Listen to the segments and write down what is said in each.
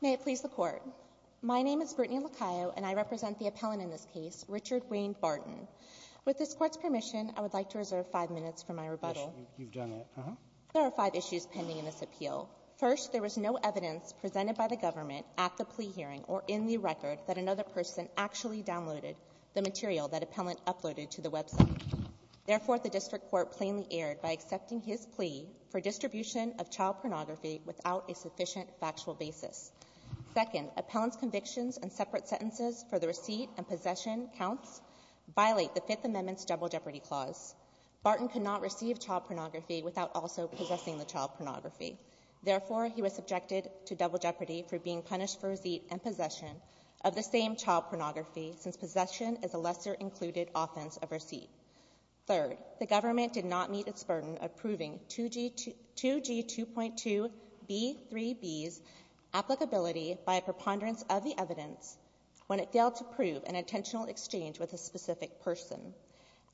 May it please the Court. My name is Brittany Lacayo and I represent the appellant in this case, Richard Wayne Barton. With this Court's permission, I would like to reserve five minutes for my rebuttal. There are five issues pending in this appeal. First, there was no evidence presented by the government at the plea hearing or in the record that another person actually downloaded the material that appellant uploaded to the website. Therefore, the District Court plainly erred by accepting his plea for distribution of child pornography without a sufficient factual basis. Second, appellant's convictions and separate sentences for the receipt and possession counts violate the Fifth Amendment's Double Jeopardy Clause. Barton could not receive child pornography without also possessing the child pornography. Therefore, he was subjected to double jeopardy for being punished for receipt and possession of the same child pornography since possession is a lesser included offense of receipt. Third, the government did not meet its burden of proving 2G2.2B3B's applicability by a preponderance of the evidence when it failed to prove an intentional exchange with a specific person.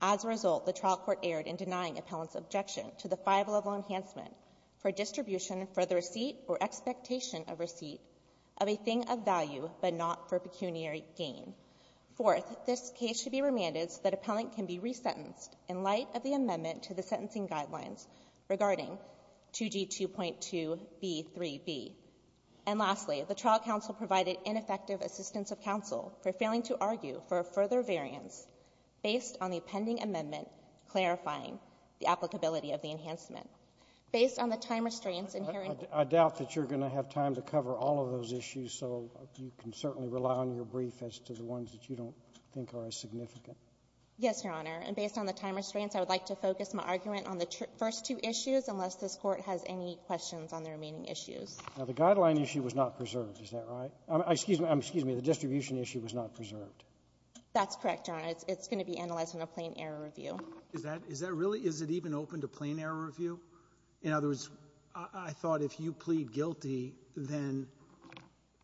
As a result, the trial court erred in denying appellant's objection to the five-level enhancement for distribution for the receipt or expectation of receipt of a thing of value, but not for pecuniary gain. Fourth, this case should be remanded so that appellant can be resentenced in light of the amendment to the sentencing guidelines regarding 2G2.2B3B. And lastly, the trial counsel provided ineffective assistance of counsel for failing to argue for a further variance based on the pending amendment clarifying the applicability of the enhancement. Based on the time restraints in hearing the case of 2G2.2B3B. Robertson, I doubt that you're going to have time to cover all of those issues, so you can certainly rely on your brief as to the ones that you don't think are as significant. Yes, Your Honor. And based on the time restraints, I would like to focus my argument on the first two issues unless this Court has any questions on the remaining issues. Now, the guideline issue was not preserved. Is that right? Excuse me. Excuse me. The distribution issue was not preserved. That's correct, Your Honor. It's going to be analyzed in a plain-error review. Is that really? Is it even open to plain-error review? In other words, I thought if you plead guilty, then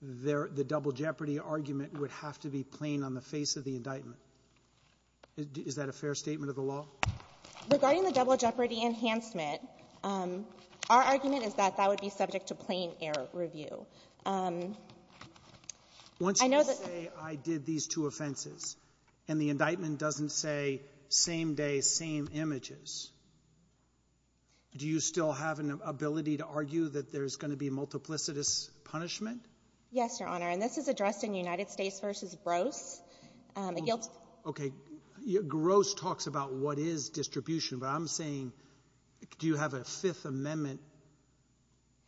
the double jeopardy argument would have to be plain on the face of the indictment. Is that a fair statement of the law? Regarding the double jeopardy enhancement, our argument is that that would be subject to plain-error review. I know that the one thing I did these two offenses, and the indictment doesn't say same day, same images, do you still have an ability to argue that there's going to be multiplicitous punishment? Yes, Your Honor. And this is addressed in United States v. Gross. The guilty — Okay. Gross talks about what is distribution, but I'm saying do you have a Fifth Amendment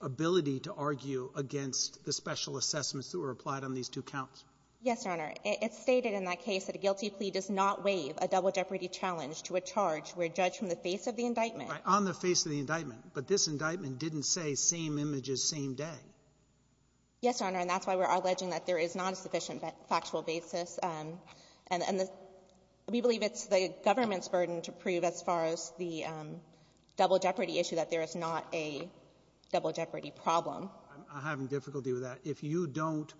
ability to argue against the special assessments that were applied on these two counts? Yes, Your Honor. It's stated in that case that a guilty plea does not waive a double jeopardy challenge to a charge where a judge from the face of the indictment — On the face of the indictment. But this indictment didn't say same images, same day. Yes, Your Honor. And that's why we're alleging that there is not a sufficient factual basis. And we believe it's the government's burden to prove as far as the double jeopardy issue that there is not a double jeopardy problem. I'm having difficulty with that. If you don't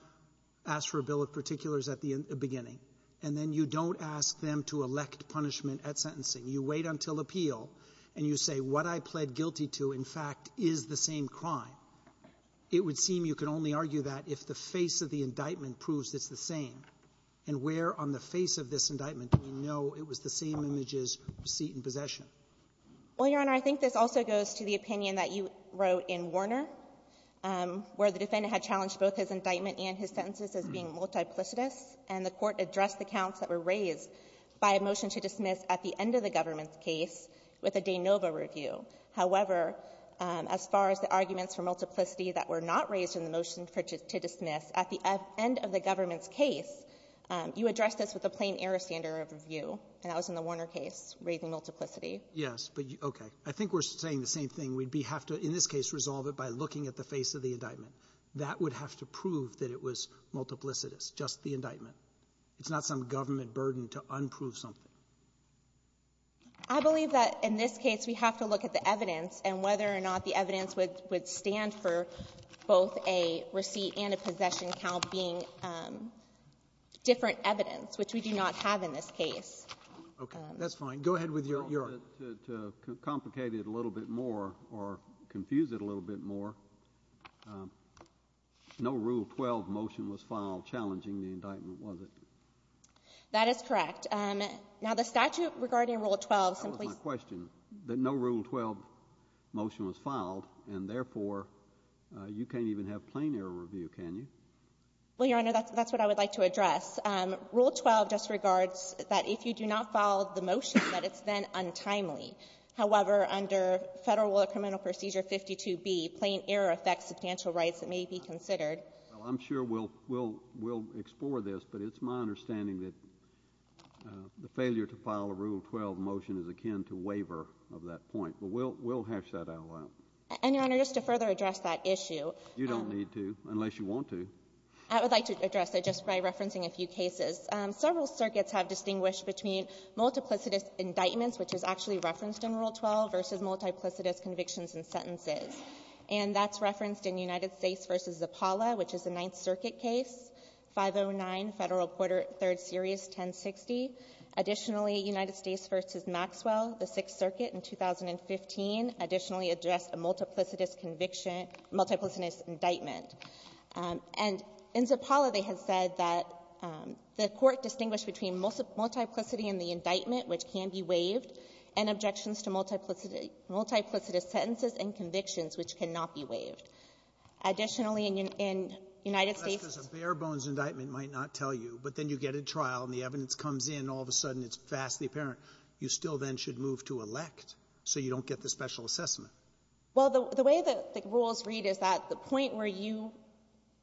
ask for a bill of particulars at the beginning, and then you don't ask them to elect punishment at sentencing, you wait until appeal, and you say what I pled guilty to, in fact, is the same crime, it would seem you could only argue that if the face of the indictment proves it's the same. And where on the face of this indictment do we know it was the same images, receipt, and possession? Well, Your Honor, I think this also goes to the opinion that you wrote in Warner, where the defendant had challenged both his indictment and his sentences as being multiplicitous, and the Court addressed the counts that were raised by a motion to dismiss at the end of the government's case with a de novo review. However, as far as the arguments for multiplicity that were not raised in the motion to dismiss, at the end of the government's case, you addressed this with a plain-error standard of review, and that was in the Warner case, raising multiplicity. Yes, but, okay. I think we're saying the same thing. We'd have to, in this case, resolve it by looking at the face of the indictment. That would have to prove that it was multiplicitous, just the indictment. It's not some government burden to unprove something. I believe that, in this case, we have to look at the evidence and whether or not the evidence would stand for both a receipt and a possession count being different evidence, which we do not have in this case. Okay. That's fine. Go ahead with your argument. To complicate it a little bit more or confuse it a little bit more, no Rule 12 motion was filed challenging the indictment, was it? That is correct. Now, the statute regarding Rule 12 simply ---- That was my question, that no Rule 12 motion was filed, and therefore, you can't even have plain-error review, can you? Well, Your Honor, that's what I would like to address. Rule 12 just regards that if you do not file the motion, that it's then untimely. However, under Federal Law Criminal Procedure 52B, plain-error affects substantial rights that may be considered. Well, I'm sure we'll explore this, but it's my understanding that the failure to file a Rule 12 motion is akin to waiver of that point. But we'll hash that out a while. And, Your Honor, just to further address that issue ---- You don't need to, unless you want to. I would like to address it just by referencing a few cases. Several circuits have distinguished between multiplicitous indictments, which is actually referenced in Rule 12, versus multiplicitous convictions and sentences. And that's referenced in United States v. Zappala, which is a Ninth Circuit case, 509 Federal Quarter Third Series 1060. Additionally, United States v. Maxwell, the Sixth Circuit in 2015, additionally addressed a multiplicitous conviction ---- multiplicitous indictment. And in Zappala, they had said that the Court distinguished between multiplicity in the indictment, which can be waived, and objections to multiplicitous sentences and convictions, which cannot be waived. Additionally, in United States ---- Sotomayor, a bare-bones indictment might not tell you, but then you get a trial and the evidence comes in, and all of a sudden it's vastly apparent. You still then should move to elect, so you don't get the special assessment. Well, the way the rules read is that the point where you ----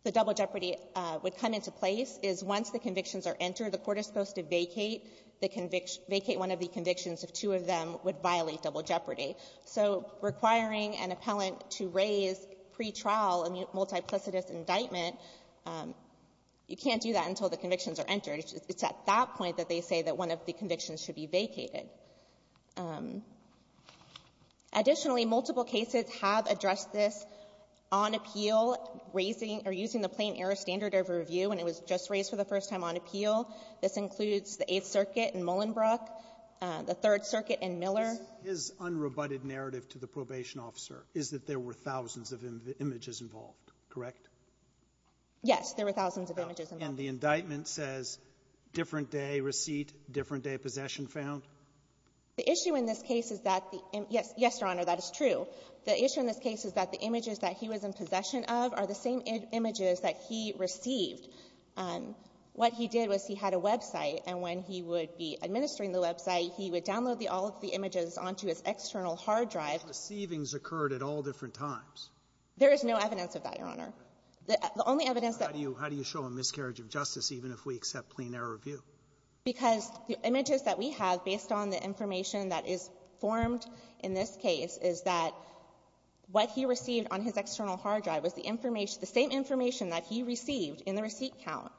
the double jeopardy would come into place is once the convictions are entered, the Court is supposed to vacate the conviction ---- vacate one of the convictions if two of them would violate double jeopardy. So requiring an appellant to raise pretrial a multiplicitous indictment, you can't do that until the convictions are entered. It's at that point that they say that one of the convictions should be vacated. Additionally, multiple cases have addressed this on appeal, raising or using the plain-error standard of review, and it was just raised for the first time on appeal. This includes the Eighth Circuit in Mullenbrook, the Third Circuit in Miller. This is unrebutted narrative to the probation officer, is that there were thousands of images involved, correct? Yes. There were thousands of images involved. And the indictment says different-day receipt, different-day possession found? The issue in this case is that the ---- yes. Yes, Your Honor, that is true. The issue in this case is that the images that he was in possession of are the same images that he received. What he did was he had a website, and when he would be administering the website, he would download all of the images onto his external hard drive. But the receivings occurred at all different times. There is no evidence of that, Your Honor. The only evidence that ---- How do you show a miscarriage of justice even if we accept plain-error review? Because the images that we have, based on the information that is formed in this case, is that what he received on his external hard drive was the information ---- the same information that he received in the receipt count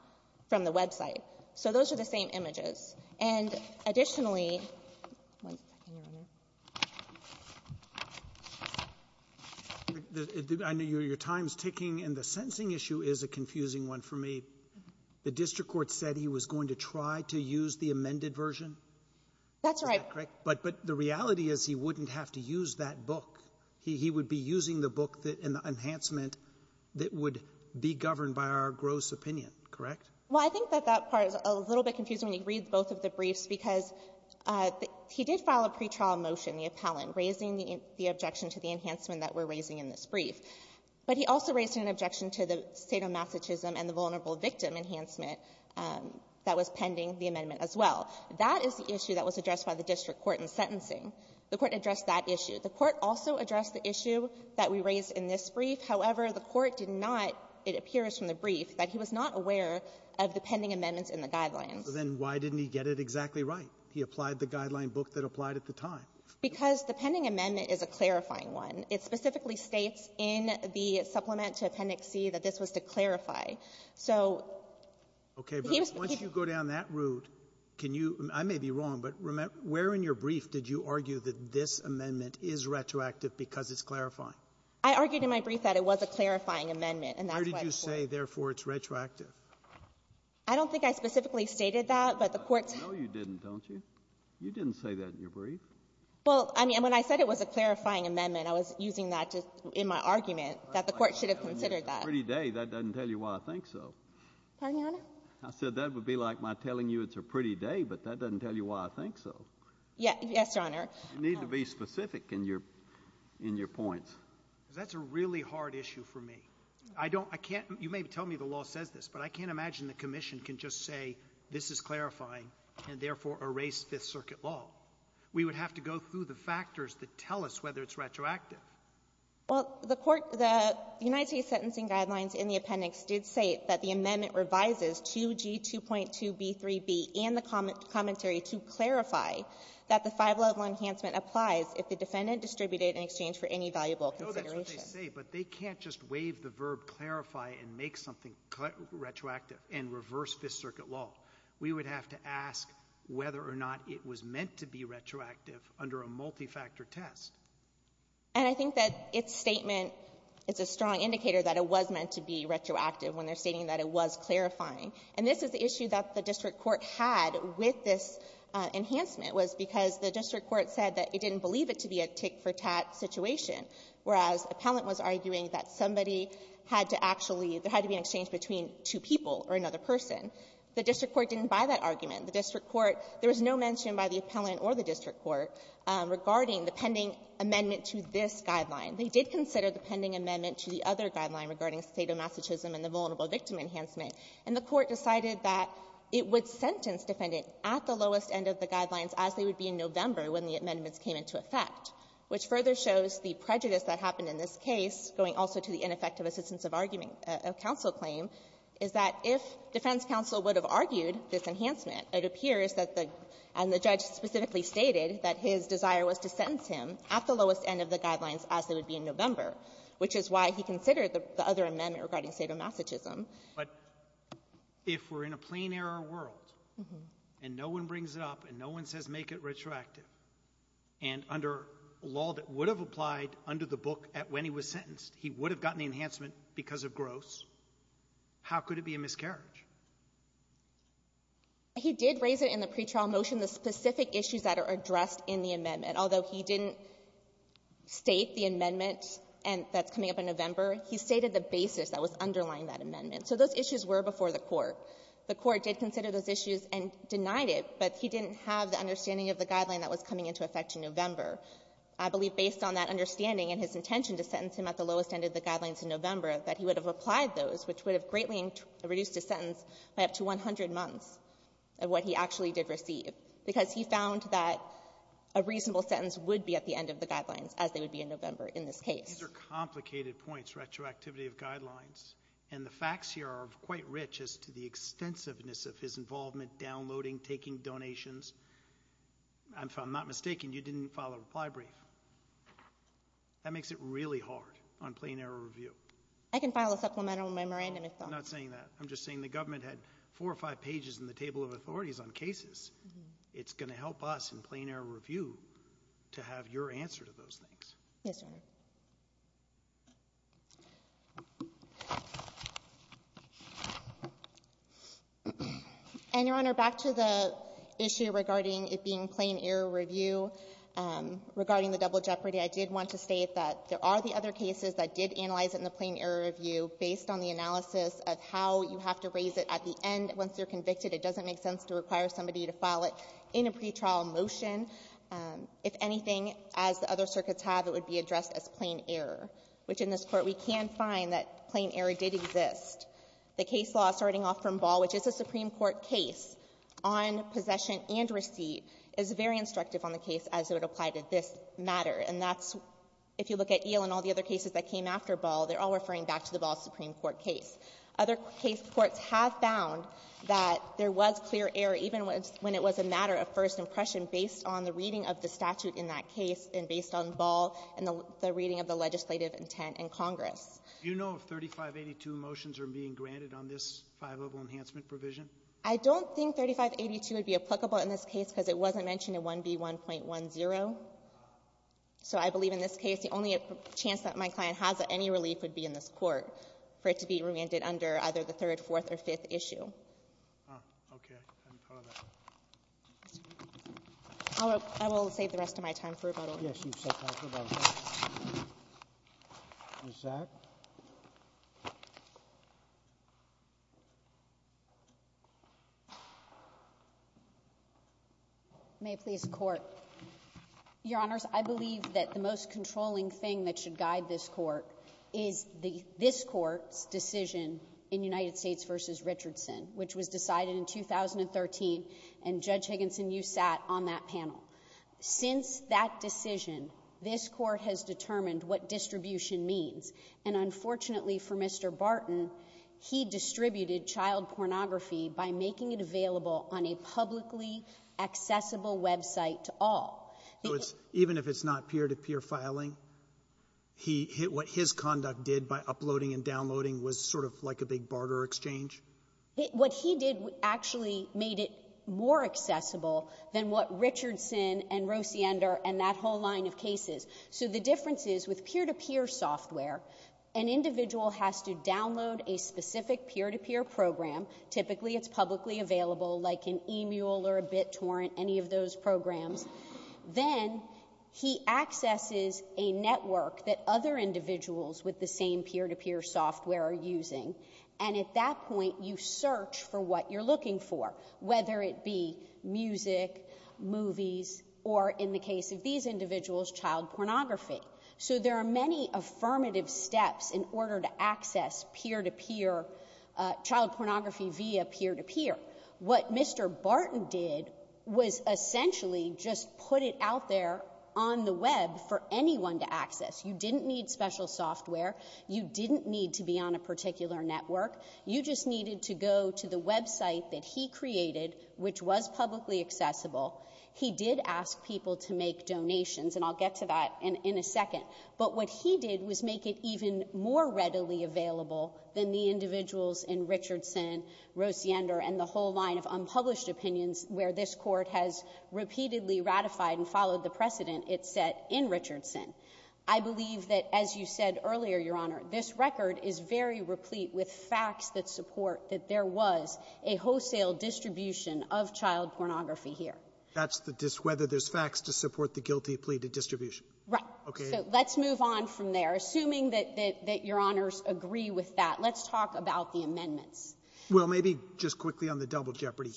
from the website. So those are the same images. And additionally ---- One second, Your Honor. I know your time is ticking, and the sentencing issue is a confusing one for me. The district court said he was going to try to use the amended version? That's right. Correct? But the reality is he wouldn't have to use that book. He would be using the book and the enhancement that would be governed by our gross opinion, correct? Well, I think that that part is a little bit confusing when you read both of the briefs, because he did file a pretrial motion, the appellant, raising the objection to the enhancement that we're raising in this brief. But he also raised an objection to the state of masochism and the vulnerable victim enhancement that was pending the amendment as well. That is the issue that was addressed by the district court in sentencing. The court addressed that issue. The court also addressed the issue that we raised in this brief. However, the court did not, it appears from the brief, that he was not aware of the pending amendments in the guidelines. So then why didn't he get it exactly right? He applied the guideline book that applied at the time. Because the pending amendment is a clarifying one. It specifically states in the supplement to Appendix C that this was to clarify. So he was the chief of the court. Okay. But once you go down that route, can you — I may be wrong, but where in your brief did you argue that this amendment is retroactive because it's clarifying? I argued in my brief that it was a clarifying amendment, and that's why the court — Where did you say, therefore, it's retroactive? I don't think I specifically stated that, but the court's — No, you didn't, don't you? You didn't say that in your brief. Well, I mean, when I said it was a clarifying amendment, I was using that to — in my argument, that the court should have considered that. Pardon me, Your Honor? I said that would be like my telling you it's a pretty day, but that doesn't tell you why I think so. Yes, Your Honor. You need to be specific in your points. That's a really hard issue for me. I don't — I can't — you may tell me the law says this, but I can't imagine the Commission can just say, this is clarifying, and therefore erase Fifth Circuit law. We would have to go through the factors that tell us whether it's retroactive. Well, the court — the United States Sentencing Guidelines in the appendix did state that the amendment revises 2G2.2b3b and the commentary to clarify that the five-level enhancement applies if the defendant distributed in exchange for any valuable consideration. I know that's what they say, but they can't just waive the verb clarify and make something retroactive and reverse Fifth Circuit law. We would have to ask whether or not it was meant to be retroactive under a multi-factor test. And I think that its statement — it's a strong indicator that it was meant to be retroactive when they're stating that it was clarifying. And this is the issue that the district court had with this enhancement, was because the district court said that it didn't believe it to be a tick-for-tat situation, whereas appellant was arguing that somebody had to actually — there had to be an exchange between two people or another person. The district court didn't buy that argument. The district court — there was no mention by the appellant or the district court regarding the pending amendment to this guideline. They did consider the pending amendment to the other guideline regarding state-of-masochism and the vulnerable-victim enhancement, and the court decided that it would sentence defendant at the lowest end of the guidelines as they would be in November when the amendments came into effect, which further shows the prejudice that happened in this case, going also to the ineffective assistance-of-argument counsel claim, is that if defense counsel would have argued this enhancement, it appears that the — and the judge specifically stated that his desire was to sentence him at the lowest end of the guidelines as they would be in November, which is why he considered the — the other amendment regarding state-of-masochism. But if we're in a plain-error world, and no one brings it up, and no one says make it retroactive, and under law that would have applied under the book at when he was in November, and it's gross, how could it be a miscarriage? He did raise it in the pretrial motion, the specific issues that are addressed in the amendment. Although he didn't state the amendment that's coming up in November, he stated the basis that was underlying that amendment. So those issues were before the court. The court did consider those issues and denied it, but he didn't have the understanding of the guideline that was coming into effect in November. I believe based on that understanding and his intention to sentence him at the lowest end of the guidelines in November, that he would have applied those, which would have greatly reduced his sentence by up to 100 months of what he actually did receive, because he found that a reasonable sentence would be at the end of the guidelines as they would be in November in this case. Roberts. These are complicated points, retroactivity of guidelines. And the facts here are quite rich as to the extensiveness of his involvement downloading, taking donations. If I'm not mistaken, you didn't file a reply brief. That makes it really hard on plain error review. I can file a supplemental memorandum if I'm not saying that. I'm just saying the government had four or five pages in the table of authorities on cases. It's going to help us in plain error review to have your answer to those things. Yes, Your Honor. And Your Honor, back to the issue regarding it being plain error review, regarding the double jeopardy, I did want to state that there are the other cases that did analyze it in the plain error review based on the analysis of how you have to raise it at the end. Once you're convicted, it doesn't make sense to require somebody to file it in a pretrial motion. If anything, as the other circuits have, it would be addressed as plain error, which in this Court we can find that plain error did exist. The case law starting off from Ball, which is a Supreme Court case on possession and receipt, is very instructive on the case as it would apply to this matter. And that's, if you look at Eel and all the other cases that came after Ball, they're all referring back to the Ball Supreme Court case. Other case courts have found that there was clear error, even when it was a matter of first impression, based on the reading of the statute in that case and based on Ball and the reading of the legislative intent in Congress. Do you know if 3582 motions are being granted on this five-level enhancement provision? I don't think 3582 would be applicable in this case because it wasn't mentioned in 1B1.10. So I believe in this case the only chance that my client has of any relief would be in this Court for it to be remanded under either the third, fourth, or fifth issue. Okay. I'll save the rest of my time for rebuttal. Yes, you've set time for rebuttal. Ms. Sack? May it please the Court. Your Honors, I believe that the most controlling thing that should guide this Court is this Court's decision in United States v. Richardson, which was decided in 2013, and Judge Higginson, you sat on that panel. Since that decision, this Court has determined what distribution means. And unfortunately for Mr. Barton, he distributed child pornography by making it available on a publicly accessible website to all. So it's — even if it's not peer-to-peer filing, he — what his conduct did by uploading and downloading was sort of like a big barter exchange? What he did actually made it more accessible than what Richardson and Rosiander and that whole line of cases. So the difference is, with peer-to-peer software, an individual has to download a specific peer-to-peer program. Typically, it's publicly available, like an emule or a BitTorrent, any of those programs. Then he accesses a network that other individuals with the same peer-to-peer software are using. And at that point, you search for what you're looking for, whether it be music, movies, or, in the case of these individuals, child pornography. So there are many affirmative steps in order to access peer-to-peer — child pornography via peer-to-peer. What Mr. Barton did was essentially just put it out there on the web for anyone to access. You didn't need special software. You didn't need to be on a particular network. You just needed to go to the website that he created, which was publicly accessible. He did ask people to make donations, and I'll get to that in a second. But what he did was make it even more readily available than the individuals in Richardson, Rosiander, and the whole line of unpublished opinions where this court has repeatedly ratified and followed the precedent it set in Richardson. I believe that, as you said earlier, Your Honor, this record is very replete with facts that support that there was a wholesale distribution of child pornography here. That's the — whether there's facts to support the guilty plea to distribution. Right. Okay. So let's move on from there. Assuming that — that Your Honors agree with that, let's talk about the amendments. Well, maybe just quickly on the double jeopardy.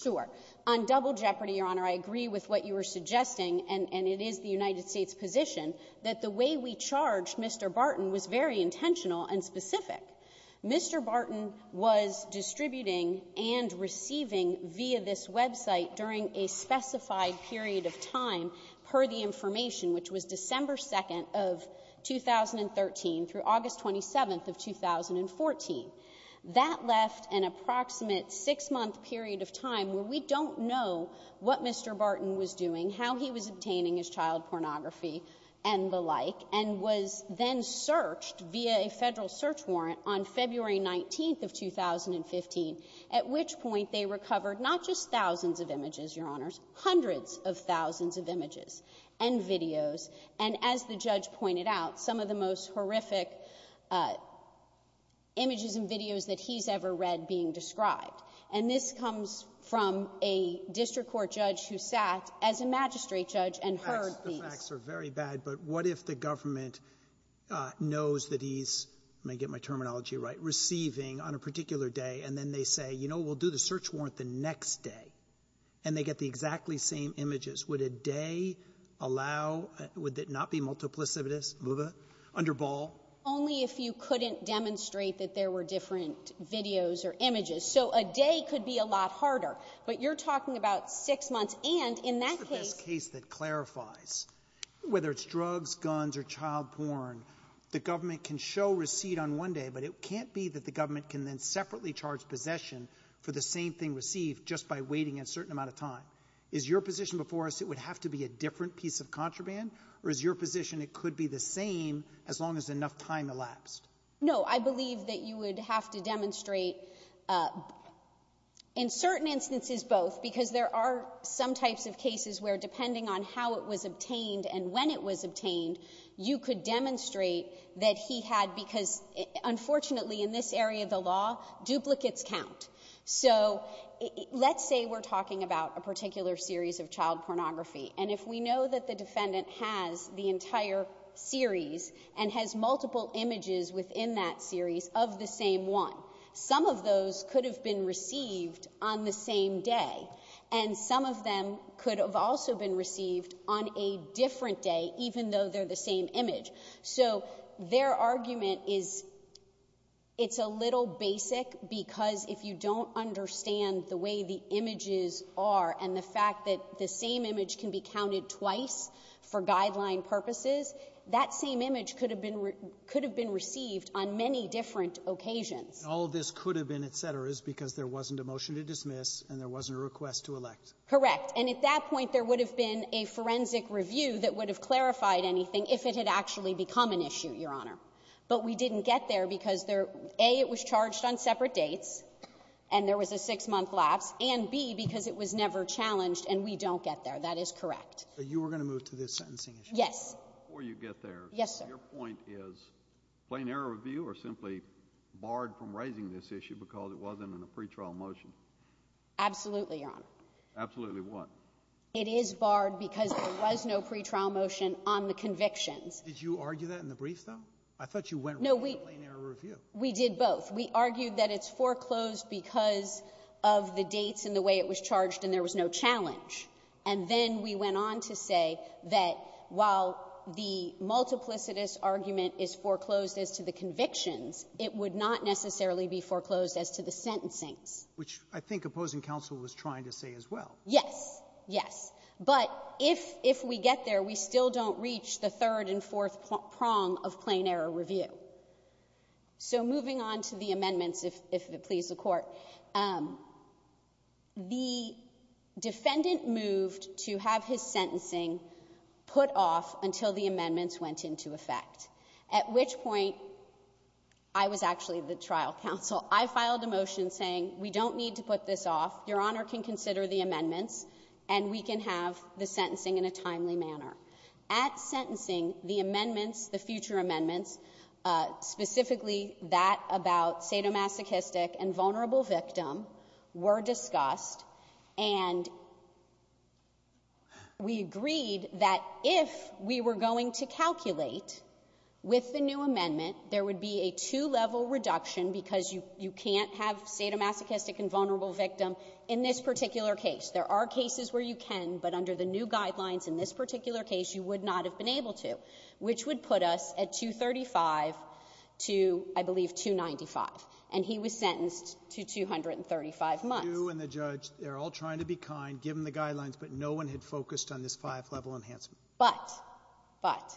On double jeopardy, Your Honor, I agree with what you were suggesting, and — and it is the United States' position that the way we charged Mr. Barton was very intentional and specific. Mr. Barton was distributing and receiving via this website during a specified period of time, per the information, which was December 2nd of 2013 through August 27th of 2014. That left an approximate six-month period of time where we don't know what Mr. Barton was doing, what he was obtaining as child pornography and the like, and was then searched via a Federal search warrant on February 19th of 2015, at which point they recovered not just thousands of images, Your Honors, hundreds of thousands of images and videos, and as the judge pointed out, some of the most horrific images and videos that he's ever read being described. And this comes from a district court judge who sat as a magistrate judge and heard these. The facts are very bad, but what if the government knows that he's — let me get my terminology right — receiving on a particular day, and then they say, you know, we'll do the search warrant the next day, and they get the exactly same images? Would a day allow — would it not be multiplicitous, under Ball? Only if you couldn't demonstrate that there were different videos or images. So a day could be a lot harder. But you're talking about six months, and in that case — What's the best case that clarifies, whether it's drugs, guns, or child porn, the government can show receipt on one day, but it can't be that the government can then separately charge possession for the same thing received just by waiting a certain amount of time. Is your position before us it would have to be a different piece of contraband, or is your position it could be the same as long as enough time elapsed? No. I believe that you would have to demonstrate in certain instances both, because there are some types of cases where, depending on how it was obtained and when it was obtained, you could demonstrate that he had — because, unfortunately, in this area of the law, duplicates count. So let's say we're talking about a particular series of child pornography. And if we know that the defendant has the entire series and has multiple images within that series of the same one, some of those could have been received on the same day. And some of them could have also been received on a different day, even though they're the same image. So their argument is it's a little basic because if you don't understand the way the for guideline purposes, that same image could have been — could have been received on many different occasions. And all this could have been, et cetera, is because there wasn't a motion to dismiss and there wasn't a request to elect. Correct. And at that point, there would have been a forensic review that would have clarified anything if it had actually become an issue, Your Honor. But we didn't get there because, A, it was charged on separate dates and there was a six-month lapse, and, B, because it was never challenged and we don't get there. That is correct. So you were going to move to the sentencing issue? Yes. Before you get there — Yes, sir. — your point is plain error review or simply barred from raising this issue because it wasn't in a pretrial motion? Absolutely, Your Honor. Absolutely what? It is barred because there was no pretrial motion on the convictions. Did you argue that in the brief, though? I thought you went right to plain error review. No, we did both. We argued that it's foreclosed because of the dates and the way it was charged and there was no challenge. And then we went on to say that while the multiplicitous argument is foreclosed as to the convictions, it would not necessarily be foreclosed as to the sentencings. Which I think opposing counsel was trying to say as well. Yes. Yes. But if we get there, we still don't reach the third and fourth prong of plain error review. So moving on to the amendments, if it pleases the Court, the defendant is charged the defendant moved to have his sentencing put off until the amendments went into effect, at which point I was actually the trial counsel. I filed a motion saying we don't need to put this off. Your Honor can consider the amendments, and we can have the sentencing in a timely manner. At sentencing, the amendments, the future amendments, specifically that about sadomasochistic and vulnerable victim, were discussed. And we agreed that if we were going to calculate with the new amendment, there would be a two-level reduction, because you can't have sadomasochistic and vulnerable victim in this particular case. There are cases where you can, but under the new guidelines in this particular case, you would not have been able to, which would put us at 235 to, I believe, 295. And he was sentenced to 235 months. Breyer. And the judge, they're all trying to be kind, give them the guidelines, but no one had focused on this five-level enhancement. But, but,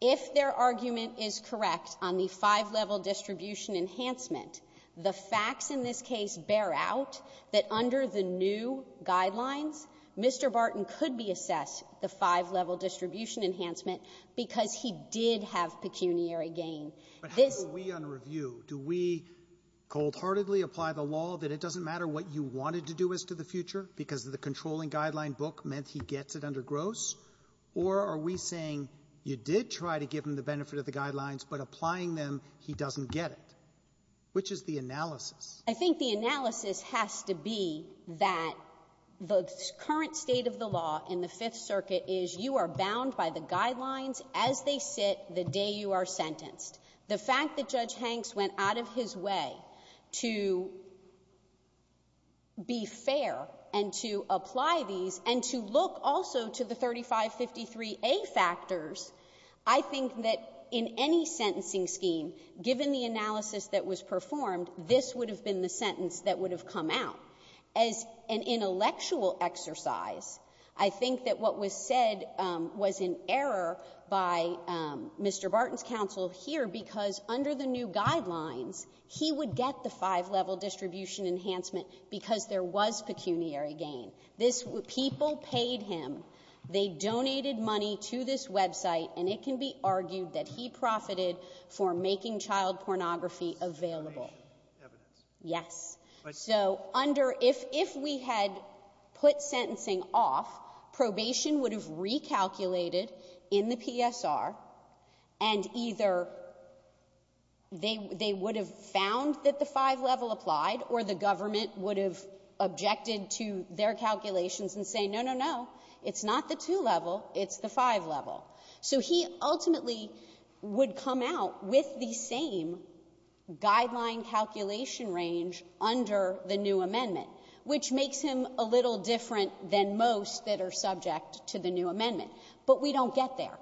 if their argument is correct on the five-level distribution enhancement, the facts in this case bear out that under the new guidelines, Mr. Barton could be assessed the five-level distribution enhancement because he did have pecuniary gain. But how do we, on review, do we cold-heartedly apply the law that it doesn't matter what you wanted to do as to the future because the controlling guideline book meant he gets it under gross? Or are we saying you did try to give him the benefit of the guidelines, but applying them, he doesn't get it? Which is the analysis? I think the analysis has to be that the current state of the law in the Fifth Circuit is you are bound by the guidelines as they sit the day you are sentenced. The fact that Judge Hanks went out of his way to be fair and to apply these and to look also to the 3553A factors, I think that in any sentencing scheme, given the analysis that was performed, this would have been the sentence that would have come out. As an intellectual exercise, I think that what was said was in error by Mr. Barton's counsel here because under the new guidelines, he would get the five-level distribution enhancement because there was pecuniary gain. This was people paid him. They donated money to this website, and it can be argued that he profited for making child pornography available. Yes. So under — if we had put sentencing off, probation would have recalculated in the PSR, and either they would have found that the five-level applied or the government would have objected to their calculations and say, no, no, no, it's not the two-level, it's the five-level. So he ultimately would come out with the same guideline calculation range under the new amendment, which makes him a little different than most that are subject to the new amendment. But we don't get there.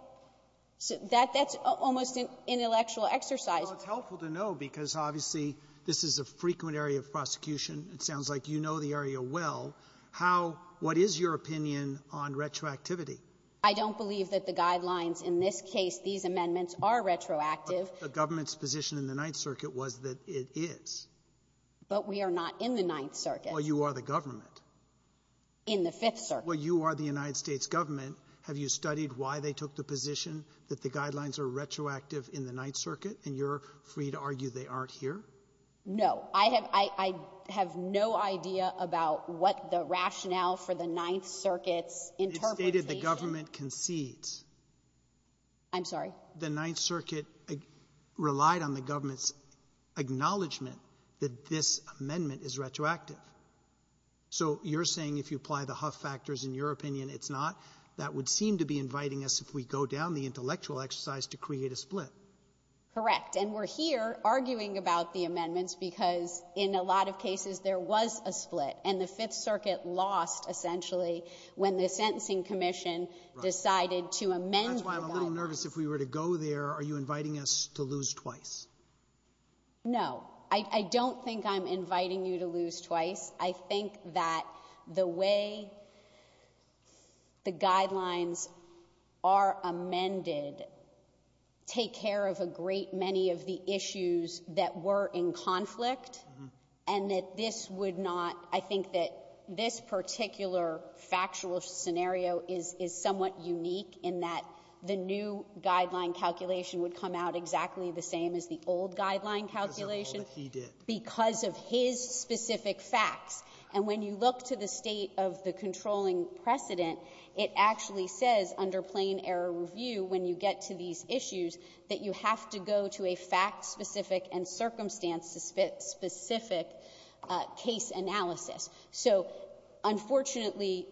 That's almost an intellectual exercise. Roberts. It's helpful to know because, obviously, this is a frequent area of prosecution. It sounds like you know the area well. How — what is your opinion on retroactivity? I don't believe that the guidelines in this case, these amendments, are retroactive. But the government's position in the Ninth Circuit was that it is. But we are not in the Ninth Circuit. Well, you are the government. In the Fifth Circuit. Well, you are the United States government. Have you studied why they took the position that the guidelines are retroactive in the Ninth Circuit? And you're free to argue they aren't here? No. I have no idea about what the rationale for the Ninth Circuit's interpretation — It's stated the government concedes. I'm sorry? The Ninth Circuit relied on the government's acknowledgment that this amendment is retroactive. So you're saying if you apply the Huff factors, in your opinion, it's not. That would seem to be inviting us, if we go down the intellectual exercise, to create a split. Correct. And we're here arguing about the amendments because in a lot of cases there was a split. And the Fifth Circuit lost, essentially, when the Sentencing Commission decided to amend the guidelines. That's why I'm a little nervous. If we were to go there, are you inviting us to lose twice? No. I don't think I'm inviting you to lose twice. I think that the way the guidelines are amended take care of a great many of the issues that were in conflict and that this would not — I think that this particular factual scenario is somewhat unique in that the new guideline calculation would come out exactly the same as the old guideline calculation because of his specific facts. And when you look to the state of the controlling precedent, it actually says, under plain error review, when you get to these issues, that you have to go to a fact-specific and circumstance-specific case analysis. So unfortunately,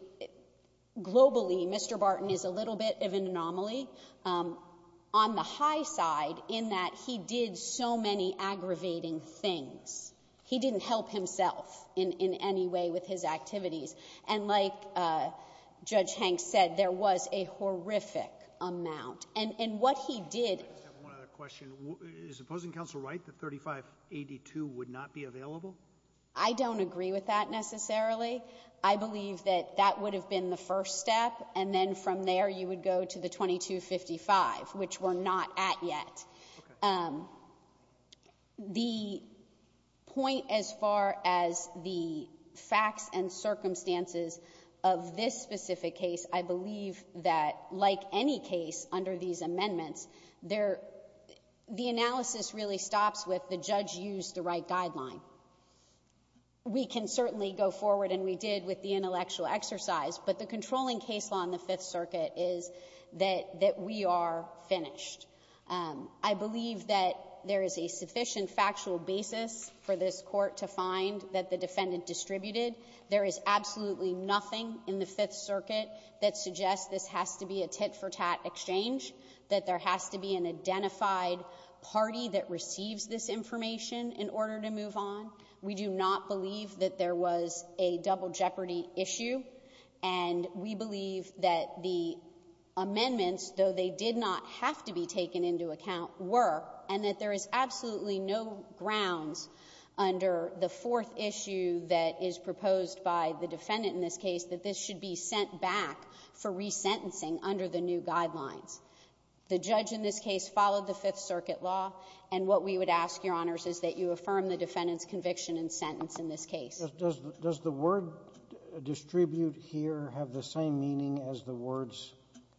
globally, Mr. Barton is a little bit of an anomaly. On the high side, in that he did so many aggravating things. He didn't help himself in any way with his activities. And like Judge Hanks said, there was a horrific amount. And what he did — I just have one other question. Is the opposing counsel right that 3582 would not be available? I don't agree with that necessarily. I believe that that would have been the first step, and then from there you would go to the 2255, which we're not at yet. The point as far as the facts and circumstances of this specific case, I believe that, like any case under these amendments, there — the analysis really stops with the judge used the right guideline. We can certainly go forward, and we did with the intellectual exercise, but the controlling case law in the Fifth Circuit is that we are finished. I believe that there is a sufficient factual basis for this Court to find that the defendant distributed. There is absolutely nothing in the Fifth Circuit that suggests this has to be a tit-for-tat exchange, that there has to be an identified party that receives this information in order to move on. We do not believe that there was a double jeopardy issue, and we believe that the amendments, though they did not have to be taken into account, were, and that there is absolutely no grounds under the fourth issue that is proposed by the defendant in this case that this should be sent back for resentencing under the new guidelines. The judge in this case followed the Fifth Circuit law, and what we would ask, Your Honors, is that you affirm the defendant's conviction and sentence in this case. Does the word distribute here have the same meaning as the words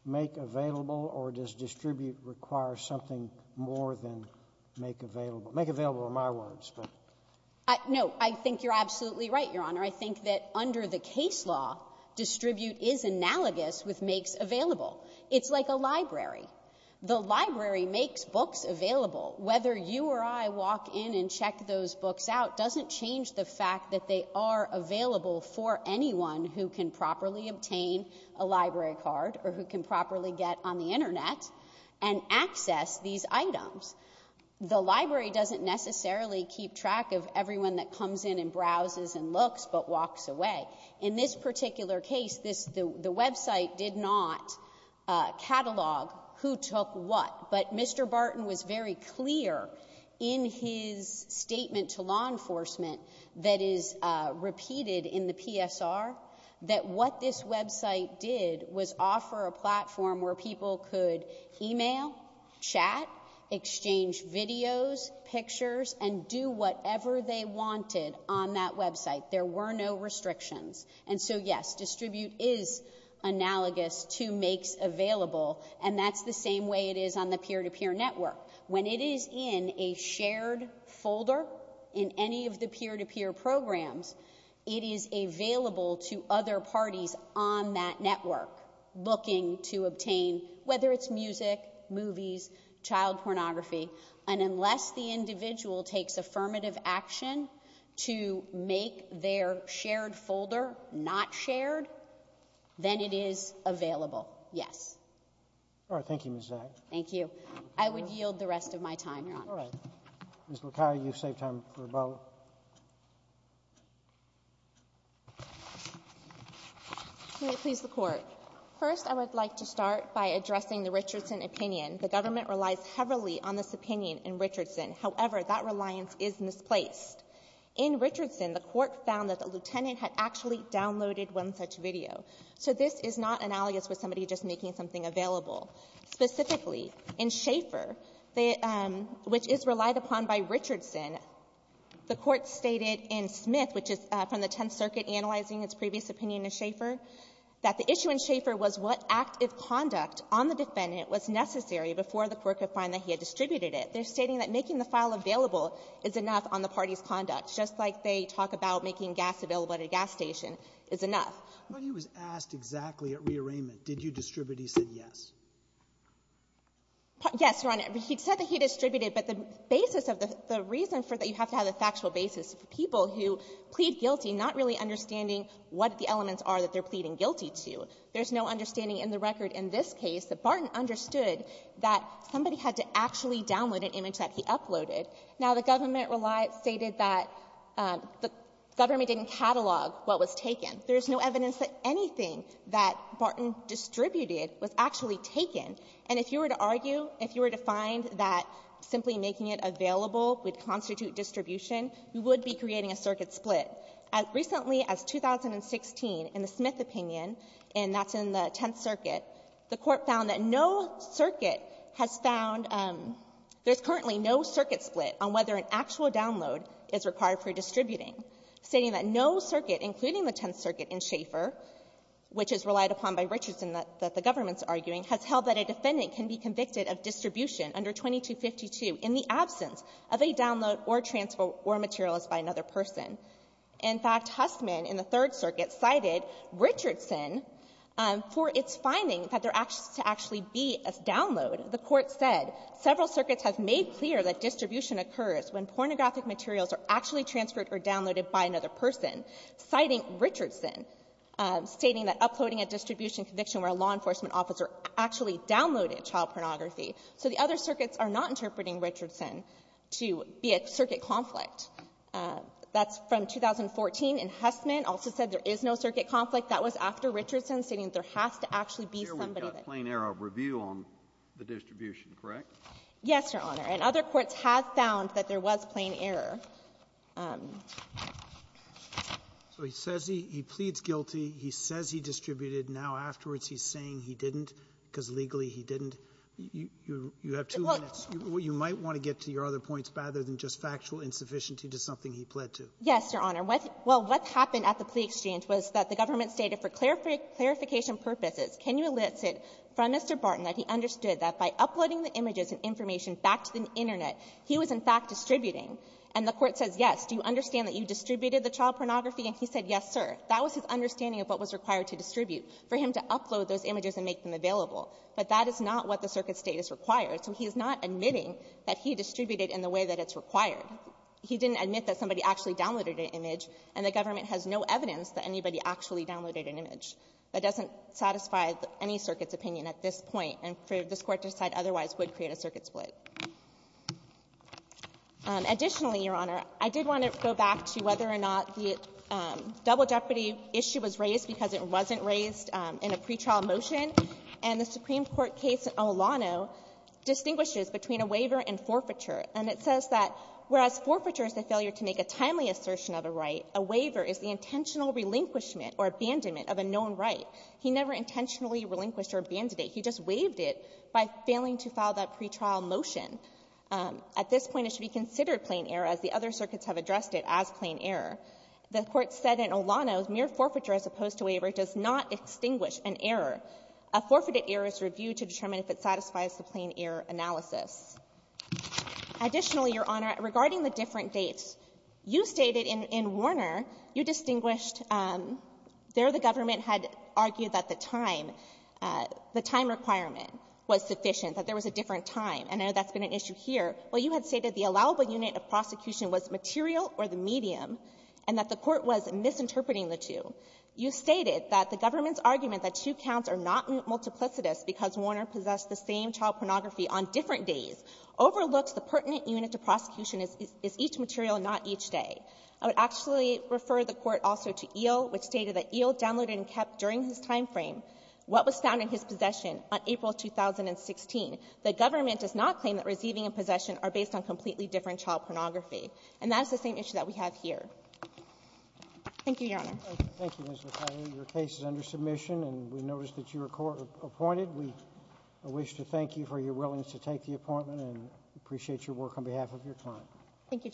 make available, or does distribute require something more than make available? Make available are my words, but — No. I think you're absolutely right, Your Honor. I think that under the case law, distribute is analogous with makes available. It's like a library. The library makes books available. Whether you or I walk in and check those books out doesn't change the fact that they are available for anyone who can properly obtain a library card or who can properly get on the Internet and access these items. The library doesn't necessarily keep track of everyone that comes in and browses and looks but walks away. In this particular case, the website did not catalog who took what, but Mr. Barton was very clear in his statement to law enforcement that is repeated in the PSR that what this website did was offer a platform where people could email, chat, exchange videos, pictures, and do whatever they wanted on that website. There were no restrictions. And so, yes, distribute is analogous to makes available, and that's the same way it is on the peer-to-peer network. When it is in a shared folder in any of the peer-to-peer programs, it is available to other parties on that network looking to obtain — whether it's music, movies, child pornography And unless the individual takes affirmative action to make their shared folder not shared, then it is available. Yes. Roberts. Thank you, Ms. Zagg. Zagg. Thank you. I would yield the rest of my time, Your Honor. Roberts. All right. Ms. Luccaio, you've saved time for rebuttal. Can I please the Court? First, I would like to start by addressing the Richardson opinion. The government relies heavily on this opinion in Richardson. However, that reliance is misplaced. In Richardson, the Court found that the lieutenant had actually downloaded one such video. So this is not analogous with somebody just making something available. Specifically, in Schaeffer, which is relied upon by Richardson, the Court stated in Smith, which is from the Tenth Circuit analyzing its previous opinion in Schaeffer, that the issue in Schaeffer was what act of conduct on the defendant was necessary before the Court could find that he had distributed it. They're stating that making the file available is enough on the party's conduct, just like they talk about making gas available at a gas station is enough. When he was asked exactly at rearrangement, did you distribute, he said yes. Yes, Your Honor. He said that he distributed, but the basis of the reason for that, you have to have a factual basis. So for people who plead guilty, not really understanding what the elements are that they're pleading guilty to, there's no understanding in the record in this case that Barton understood that somebody had to actually download an image that he uploaded. Now, the government stated that the government didn't catalog what was taken. There's no evidence that anything that Barton distributed was actually taken. And if you were to argue, if you were to find that simply making it available would constitute distribution, you would be creating a circuit split. Recently, as 2016, in the Smith opinion, and that's in the Tenth Circuit, the Court found that no circuit has found there's currently no circuit split on whether an actual download is required for distributing, stating that no circuit, including the Tenth Circuit in Schaeffer, which is relied upon by Richardson that the government's of a download or transfer or material is by another person. In fact, Hussman in the Third Circuit cited Richardson for its finding that there has to actually be a download. The Court said, several circuits have made clear that distribution occurs when pornographic materials are actually transferred or downloaded by another person, citing Richardson, stating that uploading a distribution conviction where a law enforcement officer actually downloaded child pornography. So the other be a circuit conflict. That's from 2014, and Hussman also said there is no circuit conflict. That was after Richardson, stating there has to actually be somebody that can do it. Kennedy, we've got plain error of review on the distribution, correct? Yes, Your Honor. And other courts have found that there was plain error. So he says he pleads guilty. He says he distributed. Now, afterwards, he's saying he didn't because legally he didn't. You have two minutes. You might want to get to your other points rather than just factual insufficiency to something he pled to. Yes, Your Honor. Well, what happened at the plea exchange was that the government stated for clarification purposes, can you elicit from Mr. Barton that he understood that by uploading the images and information back to the Internet, he was in fact distributing. And the Court says, yes. Do you understand that you distributed the child pornography? And he said, yes, sir. That was his understanding of what was required to distribute, for him to upload those images and make them available. But that is not what the circuit State has required. So he is not admitting that he distributed in the way that it's required. He didn't admit that somebody actually downloaded an image, and the government has no evidence that anybody actually downloaded an image. That doesn't satisfy any circuit's opinion at this point, and this Court to decide otherwise would create a circuit split. Additionally, Your Honor, I did want to go back to whether or not the double jeopardy issue was raised because it wasn't raised in a pretrial motion. And the Supreme Court case in Olano distinguishes between a waiver and forfeiture. And it says that whereas forfeiture is the failure to make a timely assertion of a right, a waiver is the intentional relinquishment or abandonment of a known right. He never intentionally relinquished or abandoned it. He just waived it by failing to file that pretrial motion. At this point, it should be considered plain error, as the other circuits have addressed it as plain error. The Court said in Olano, mere forfeiture as opposed to waiver does not extinguish an error. A forfeited error is reviewed to determine if it satisfies the plain error analysis. Additionally, Your Honor, regarding the different dates, you stated in Warner, you distinguished there the government had argued that the time, the time requirement was sufficient, that there was a different time. And I know that's been an issue here. Well, you had stated the allowable unit of prosecution was material or the medium, and that the Court was misinterpreting the two. You stated that the government's argument that two counts are not multiplicitous because Warner possessed the same child pornography on different days overlooks the pertinent unit of prosecution is each material, not each day. I would actually refer the Court also to Eel, which stated that Eel downloaded and kept during his time frame what was found in his possession on April 2016. The government does not claim that receiving and possession are based on completely different child pornography. And that's the same issue that we have here. Thank you, Your Honor. Roberts. Thank you, Ms. Vitale. Your case is under submission, and we notice that you are court-appointed. We wish to thank you for your willingness to take the appointment, and appreciate your work on behalf of your client. Thank you, judges.